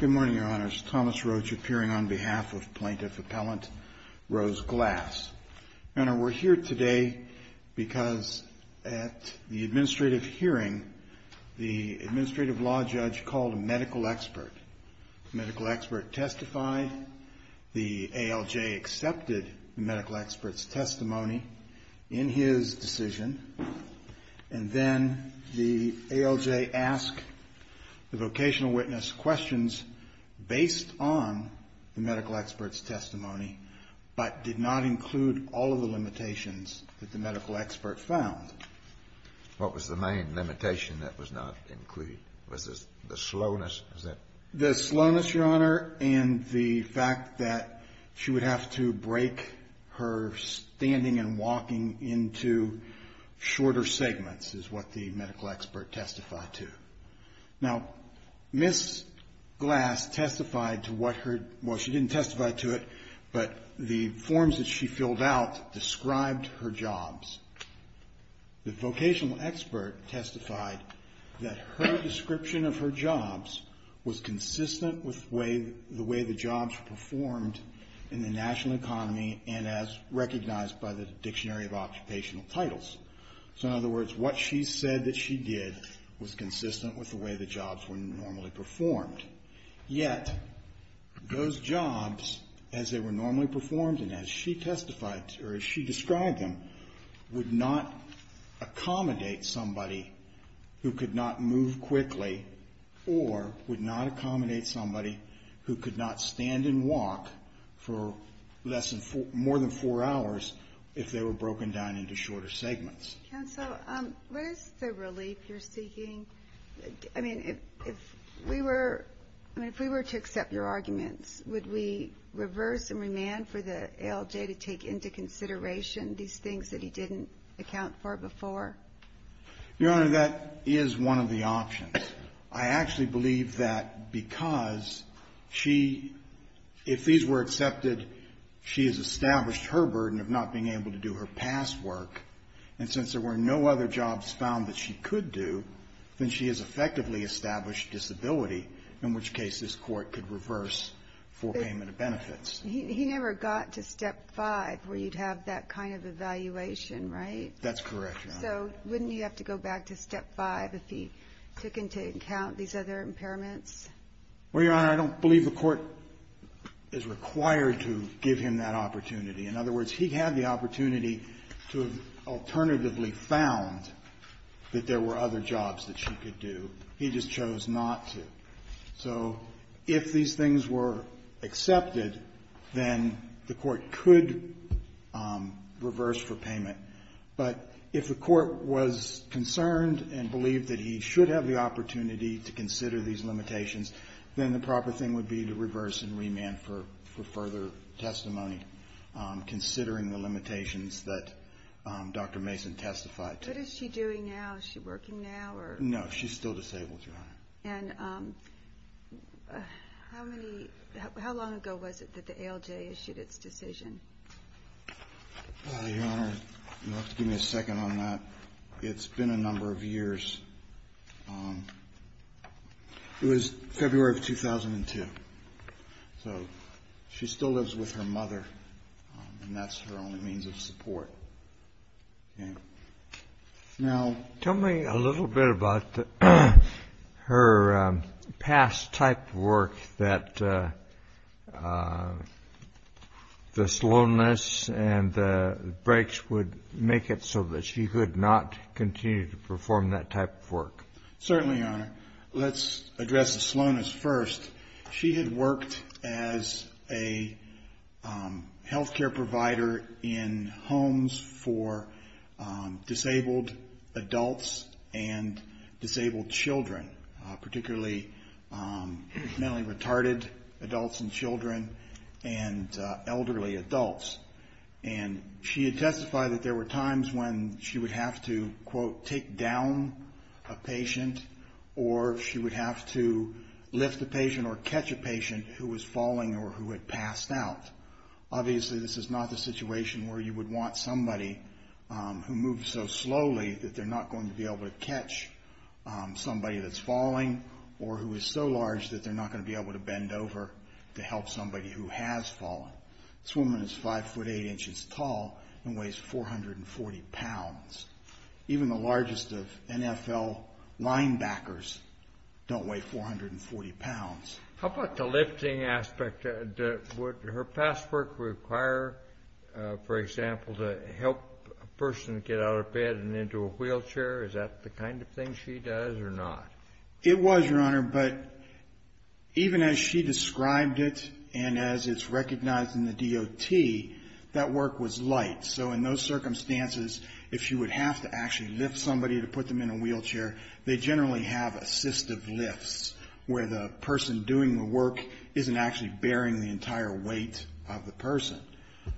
Good morning, Your Honors. Thomas Roach, appearing on behalf of Plaintiff Appellant Rose Glass. Your Honor, we're here today because at the administrative hearing, the administrative law judge called a medical expert. The medical expert testified, the ALJ accepted the medical expert's testimony in his decision, and then the ALJ asked the vocational witness questions based on the medical expert's testimony, but did not include all of the limitations that the medical expert found. What was the main limitation that was not included? Was it the slowness? The slowness, Your Honor, and the fact that she would have to break her standing and walking into shorter segments is what the medical expert testified to. Now, Ms. Glass testified to what her, well, she didn't testify to it, but the forms that she filled out described her jobs. The vocational expert testified that her description of her jobs was consistent with the way the jobs were performed in the national economy and as recognized by the Dictionary of Occupational Titles. So, in other words, what she said that she did was consistent with the way the jobs were normally performed. Yet, those jobs, as they were normally them, would not accommodate somebody who could not move quickly or would not accommodate somebody who could not stand and walk for less than four, more than four hours if they were broken down into shorter segments. Counsel, what is the relief you're seeking? I mean, if we were, I mean, if we were to accept your arguments, would we reverse and remand for the ALJ to take into consideration these things that he didn't account for before? Your Honor, that is one of the options. I actually believe that because she, if these were accepted, she has established her burden of not being able to do her past work, and since there were no other jobs found that she could do, then she has effectively established disability, in which case this Court could reverse for payment of benefits. He never got to Step 5, where you'd have that kind of evaluation, right? That's correct, Your Honor. So wouldn't you have to go back to Step 5 if he took into account these other impairments? Well, Your Honor, I don't believe the Court is required to give him that opportunity. In other words, he had the opportunity to have alternatively found that there were other jobs that she could do. He just chose not to. So if these things were accepted, then the Court could reverse for payment. But if the Court was concerned and believed that he should have the opportunity to consider these limitations, then the proper thing would be to reverse and remand for further testimony, considering the limitations that Dr. Mason testified to. What is she doing now? Is she working now? No, she's still disabled, Your Honor. And how long ago was it that the ALJ issued its decision? Your Honor, you'll have to give me a second on that. It's been a number of years. It was February of 2002. So she still lives with her mother, and that's her only means of support. Now, tell me a little bit about her past type of work that the slowness and the breaks would make it so that she could not continue to perform that type of work. Certainly, Your Honor. Let's address the slowness first. She had worked as a health care provider in homes for disabled adults and disabled children, particularly mentally retarded adults and children and elderly adults. And she had testified that there were times when she would have to, quote, take down a patient or she would have to lift a patient or catch a patient who was falling or who had passed out. Obviously, this is not the situation where you would want somebody who moves so slowly that they're not going to be able to catch somebody that's falling or who is so large that they're not going to be able to bend over to help somebody who has fallen. This woman is 5 foot 8 inches tall and weighs 440 pounds. Even the largest of NFL linebackers don't weigh 440 pounds. How about the lifting aspect? Would her past work require, for example, to help a person get out of bed and into a wheelchair? Is that the kind of thing she does or not? It was, Your Honor, but even as she described it and as it's recognized in the DOT, that work was light. So in those circumstances, if she would have to actually lift somebody to put them in a wheelchair, they generally have assistive lifts where the person doing the work isn't actually bearing the entire weight of the person.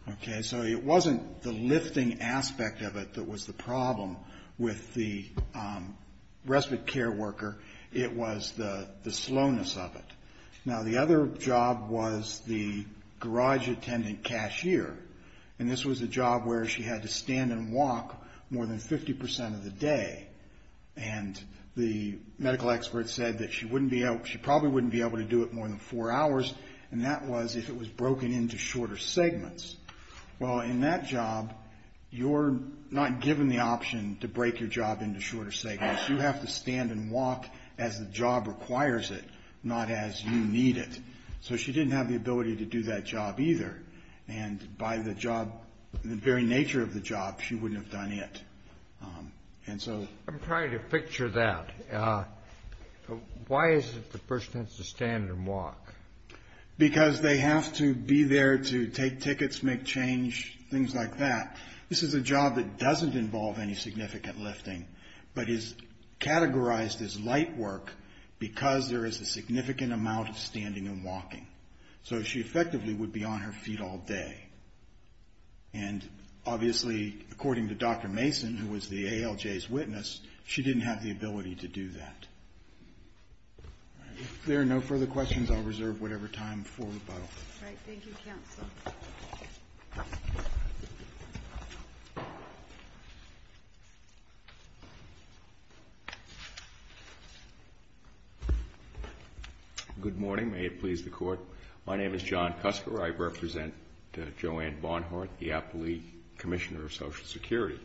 Okay? So it wasn't the lifting aspect of it that was the problem with the respite care worker. It was the slowness of it. Now, the other job was the garage attendant cashier. And this was a job where she had to stand and walk more than 50 percent of the day. And the medical expert said that she probably wouldn't be able to do it more than four hours, and that was if it was broken into shorter segments. Well, in that job, you're not given the option to break your job into shorter segments. You have to stand and walk as the job requires it, not as you need it. So she didn't have the ability to do that job either. And by the very nature of the job, she wouldn't have done it. And so... I'm trying to picture that. Why is it the person has to stand and walk? Because they have to be there to take tickets, make change, things like that. This is a job that doesn't involve any significant lifting, but is categorized as light work because there is a significant amount of standing and walking. So she effectively would be on her feet all day. And obviously, according to Dr. Mason, who was the ALJ's witness, she didn't have the ability to do that. If there are no further questions, I'll reserve whatever time for rebuttal. All right. Thank you, Counsel. Good morning. May it please the Court. My name is John Cusker. I represent Joanne Barnhart, the aptly Commissioner of Social Security.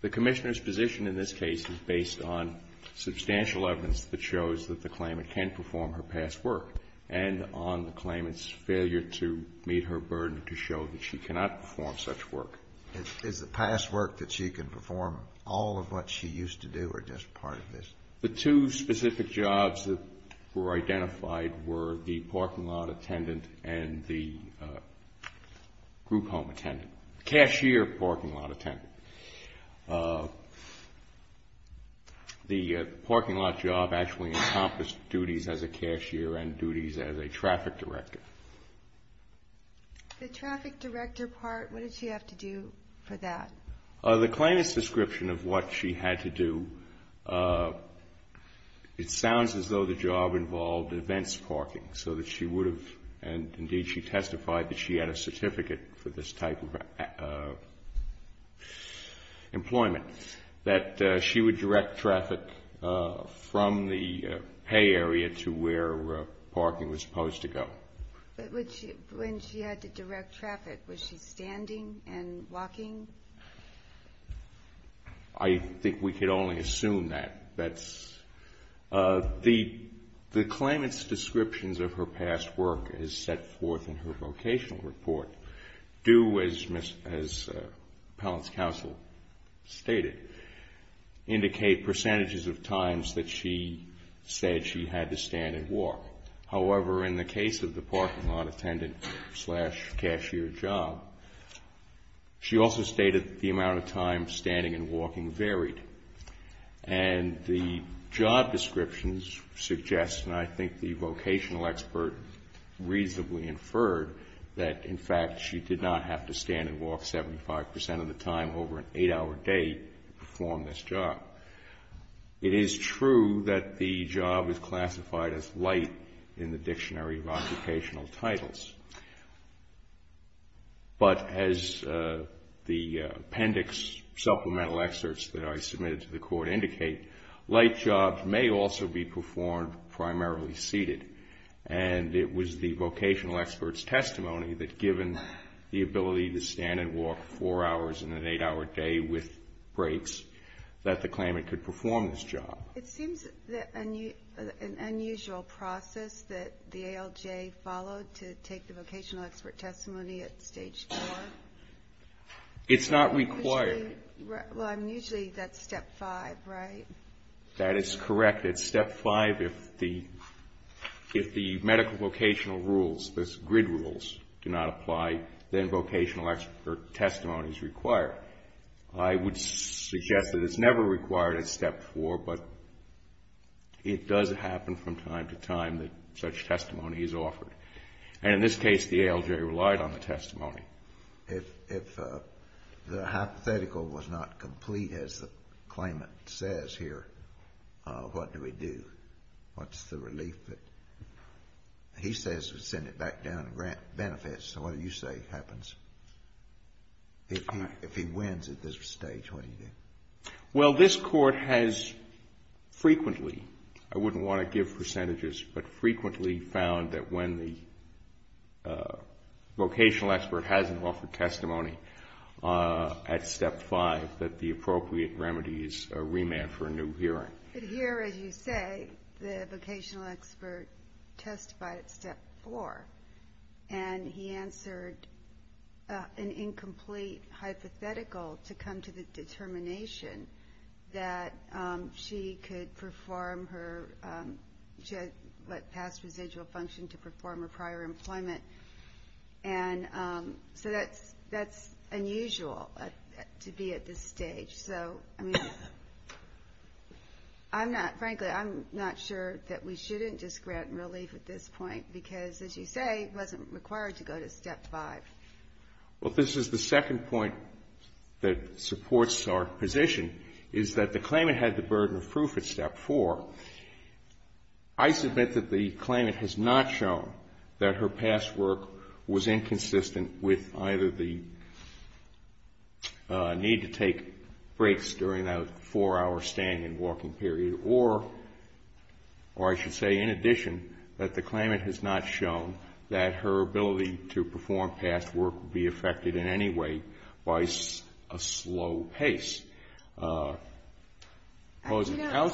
The Commissioner's position in this case is based on substantial evidence that shows that the claimant can perform her past work and on the claimant's failure to meet her burden to show that she cannot perform such work. Is the past work that she can perform all of what she used to do or just part of this? The two specific jobs that were identified were the parking lot attendant and the group home attendant, the cashier parking lot attendant. The parking lot job actually encompassed duties as a cashier and duties as a traffic director. The traffic director part, what did she have to do for that? The claimant's description of what she had to do, it sounds as though the job involved events parking so that she would have, and indeed she testified that she had a certificate for this type of employment, that she would direct traffic from the pay area to where parking was supposed to go. But when she had to direct traffic, was she standing and walking? I think we could only assume that. That's, the claimant's descriptions of her past work is set forth in her vocational report, due as appellant's counsel stated, indicate percentages of times that she said she had to stand and walk. However, in the case of the parking lot attendant slash cashier job, she also stated the amount of time standing and walking reasonably inferred that, in fact, she did not have to stand and walk 75% of the time over an eight-hour day to perform this job. It is true that the job is classified as light in the Dictionary of Occupational Titles. But as the appendix supplemental excerpts that I submitted to the court indicate, light jobs may also be performed primarily seated. And it was the vocational expert's testimony that, given the ability to stand and walk four hours in an eight-hour day with breaks, that the claimant could perform this job. It seems that an unusual process that the ALJ followed to take the vocational expert testimony at Stage 4. It's not required. Well, I mean, usually that's Step 5, right? That is correct. At Step 5, if the medical vocational rules, the grid rules, do not apply, then vocational expert testimony is required. I would suggest that it's never required at Step 4, but it does happen from time to time that such testimony is offered. And in this case, the ALJ relied on the testimony. If the hypothetical was not complete, as the claimant says here, what do we do? What's the relief? He says we send it back down to grant benefits. So what do you say happens? If he wins at this stage, what do you do? Well, this Court has frequently, I wouldn't want to give percentages, but frequently found that when the vocational expert hasn't offered testimony at Step 5, that the appropriate remedy is a remand for a new hearing. But here, as you say, the vocational expert testified at Step 4, and he answered an incomplete hypothetical to come to the determination that she could perform her past residual function to perform her prior employment. And so that's unusual to be at this stage. So, I mean, I'm not, frankly, I'm not sure that we shouldn't just grant relief at this point, because, as you say, it wasn't required to go to Step 5. Well, this is the second point that supports our position, is that the claimant had the evidence shown that her past work was inconsistent with either the need to take breaks during that four-hour standing and walking period, or I should say, in addition, that the claimant has not shown that her ability to perform past work would be affected in any way by a slow pace. You know,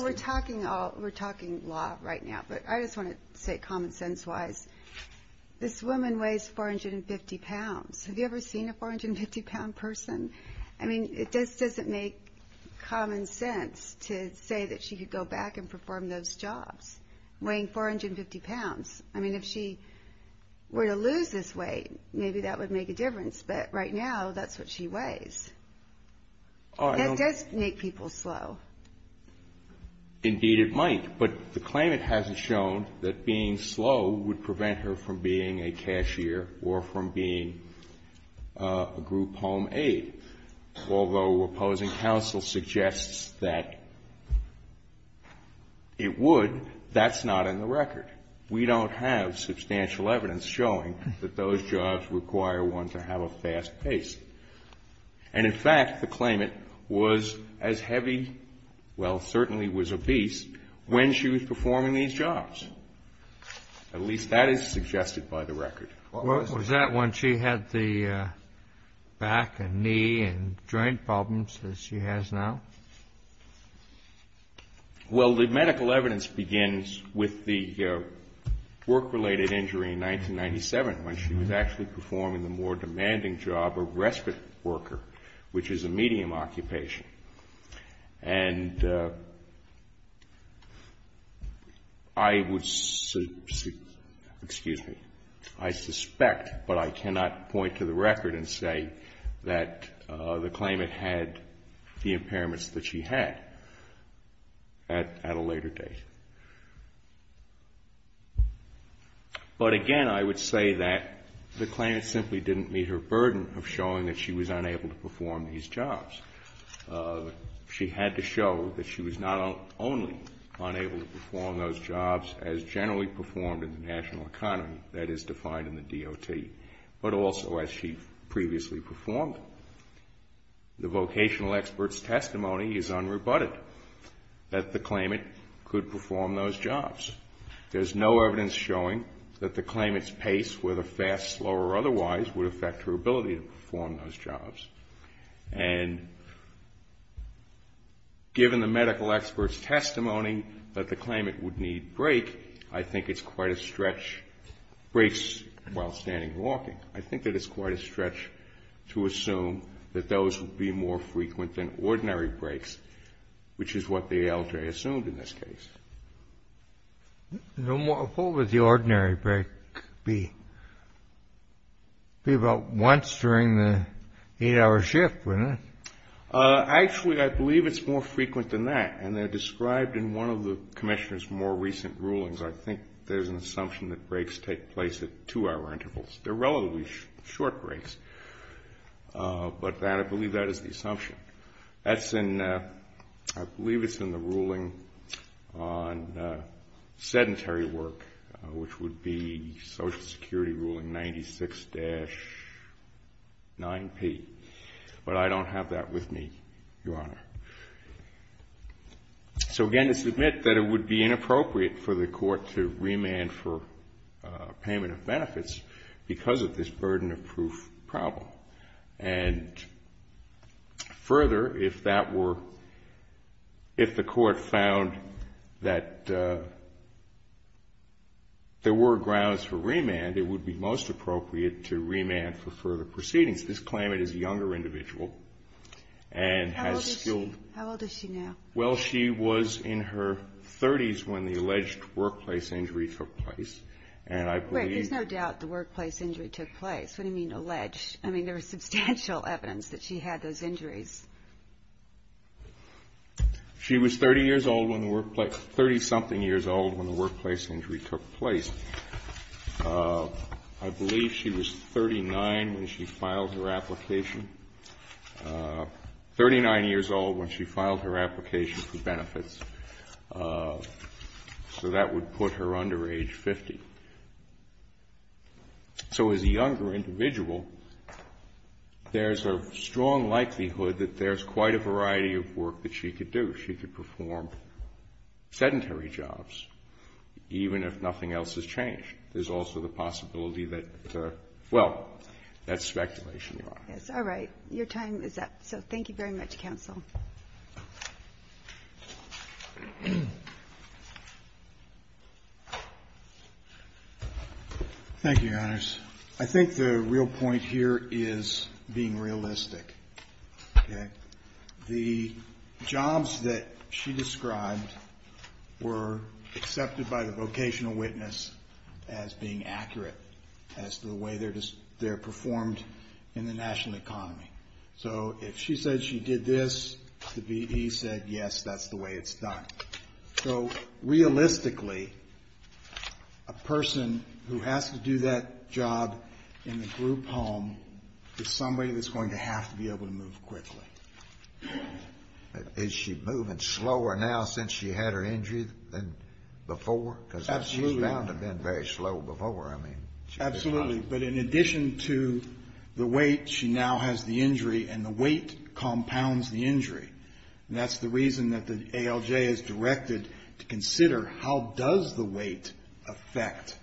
we're talking law right now, but I just want to say kind of quickly, because it's common sense-wise, this woman weighs 450 pounds. Have you ever seen a 450-pound person? I mean, it just doesn't make common sense to say that she could go back and perform those jobs, weighing 450 pounds. I mean, if she were to lose this weight, maybe that would make a difference. But right now, that's what she weighs. That does make people slow. Indeed, it might. But the claimant hasn't shown that being slow would prevent her from being a cashier or from being a group home aide. Although opposing counsel suggests that it would, that's not in the record. We don't have substantial evidence showing that those jobs require one to have a fast pace. And, in fact, the claimant was as heavy well certainly was obese when she was performing these jobs. At least that is suggested by the record. Was that when she had the back and knee and joint problems that she has now? Well, the medical evidence begins with the work-related injury in 1997 when she was actually performing the more demanding job of respite worker, which is a medium occupation. And I would, excuse me, I suspect, but I cannot point to the record and say that the claimant had the impairments that she had at a later date. But, again, I would say that the claimant simply didn't meet her burden of showing that she was unable to perform these jobs. She had to show that she was not only unable to perform those jobs as generally performed in the national economy, that is defined in the DOT, but also as she previously performed. The vocational expert's testimony is unrebutted that the claimant could perform those jobs. There is no evidence showing that the claimant's pace, whether fast, slow, or otherwise, would affect her ability to perform those jobs. And given the medical expert's testimony that the claimant would need break, I think it's quite a stretch, breaks while standing and walking. I think that it's quite a stretch to assume that those would be more frequent than ordinary breaks, which is what the ALJ assumed in this case. What would the ordinary break be? It would be about once during the eight-hour shift, wouldn't it? Actually, I believe it's more frequent than that, and they're described in one of the Commissioner's more recent rulings. I think there's an assumption that breaks take place at two-hour intervals. They're relatively short breaks, but I believe that is the assumption. That's in, I believe it's in the ruling on sedentary work, which would be Social Security Ruling 96-9P, but I don't have that with me, Your Honor. So, again, to submit that it would be inappropriate for the court to remand for payment of benefits because of this burden of proof problem. And further, if that were, if the court found that there were grounds for remand, it would be most appropriate to remand for further proceedings. This claimant is a younger individual and has skilled How old is she? How old is she now? Well, she was in her 30s when the alleged workplace injury took place, and I believe Wait. There's no doubt the workplace injury took place. What do you mean alleged? I mean, there was substantial evidence that she had those injuries. She was 30 years old when the workplace, 30-something years old when the workplace injury took place. I believe she was 39 when she filed her application, 39 years old when she filed her application for benefits. So that would put her under age 50. So as a younger individual, there's a strong likelihood that there's quite a variety of work that she could do. She could perform sedentary jobs, even if nothing else has changed. There's also the possibility that, well, that's speculation. Yes. All right. Your time is up. So thank you very much, Counsel. Thank you, Your Honors. I think the real point here is being realistic. Okay? The claimant said that the jobs that she described were accepted by the vocational witness as being accurate as to the way they're performed in the national economy. So if she said she did this, the V.E. said, yes, that's the way it's done. So realistically, a person who has to do that job in the group home is somebody that's going to have to be able to move quickly. Is she moving slower now since she had her injury than before? Absolutely. Because she's found to have been very slow before. I mean, she did not. Absolutely. But in addition to the weight, she now has the injury, and the weight compounds the injury. And that's the reason that the ALJ is directed to consider how does the weight affect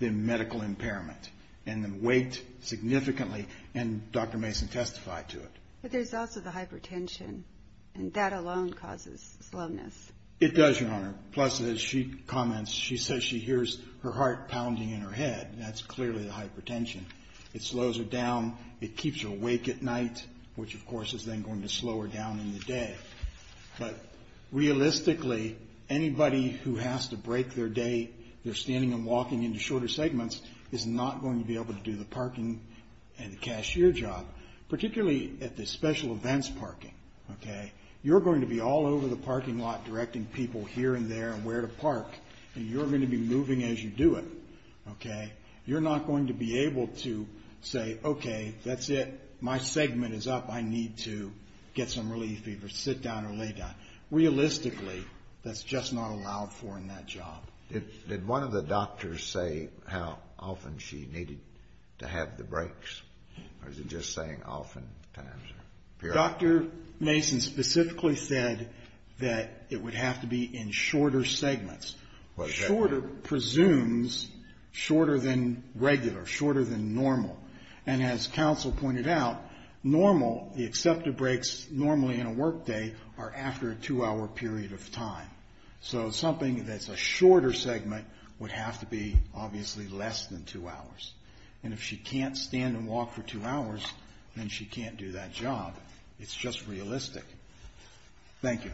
the medical impairment? And the weight significantly, and Dr. Mason testified to it. But there's also the hypertension, and that alone causes slowness. It does, Your Honor. Plus, as she comments, she says she hears her heart pounding in her head. That's clearly the hypertension. It slows her down. It keeps her awake at night, which, of course, is then going to slow her down in the day. But realistically, anybody who has to break their day, their standing and walking into shorter segments, is not going to be able to do the parking and the cashier job, particularly at the special events parking. Okay? You're going to be all over the parking lot directing people here and there and where to park, and you're going to be moving as you do it. Okay? You're not going to be able to say, okay, that's it. My segment is up. I need to get some relief or sit down or lay down. Realistically, that's just not allowed for in that job. Did one of the doctors say how often she needed to have the breaks, or is it just saying oftentimes or periodically? Dr. Mason specifically said that it would have to be in shorter segments. Well, exactly. Shorter presumes shorter than regular, shorter than normal. And as counsel pointed out, normal, the accepted breaks normally in a workday are after a two-hour period of time. So something that's a shorter segment would have to be obviously less than two hours. And if she can't stand and walk for two hours, then she can't do that job. It's just realistic. Thank you.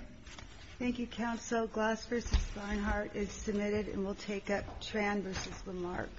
Thank you, counsel. Glass v. Finehart is submitted, and we'll take up Tran v. Lamarck.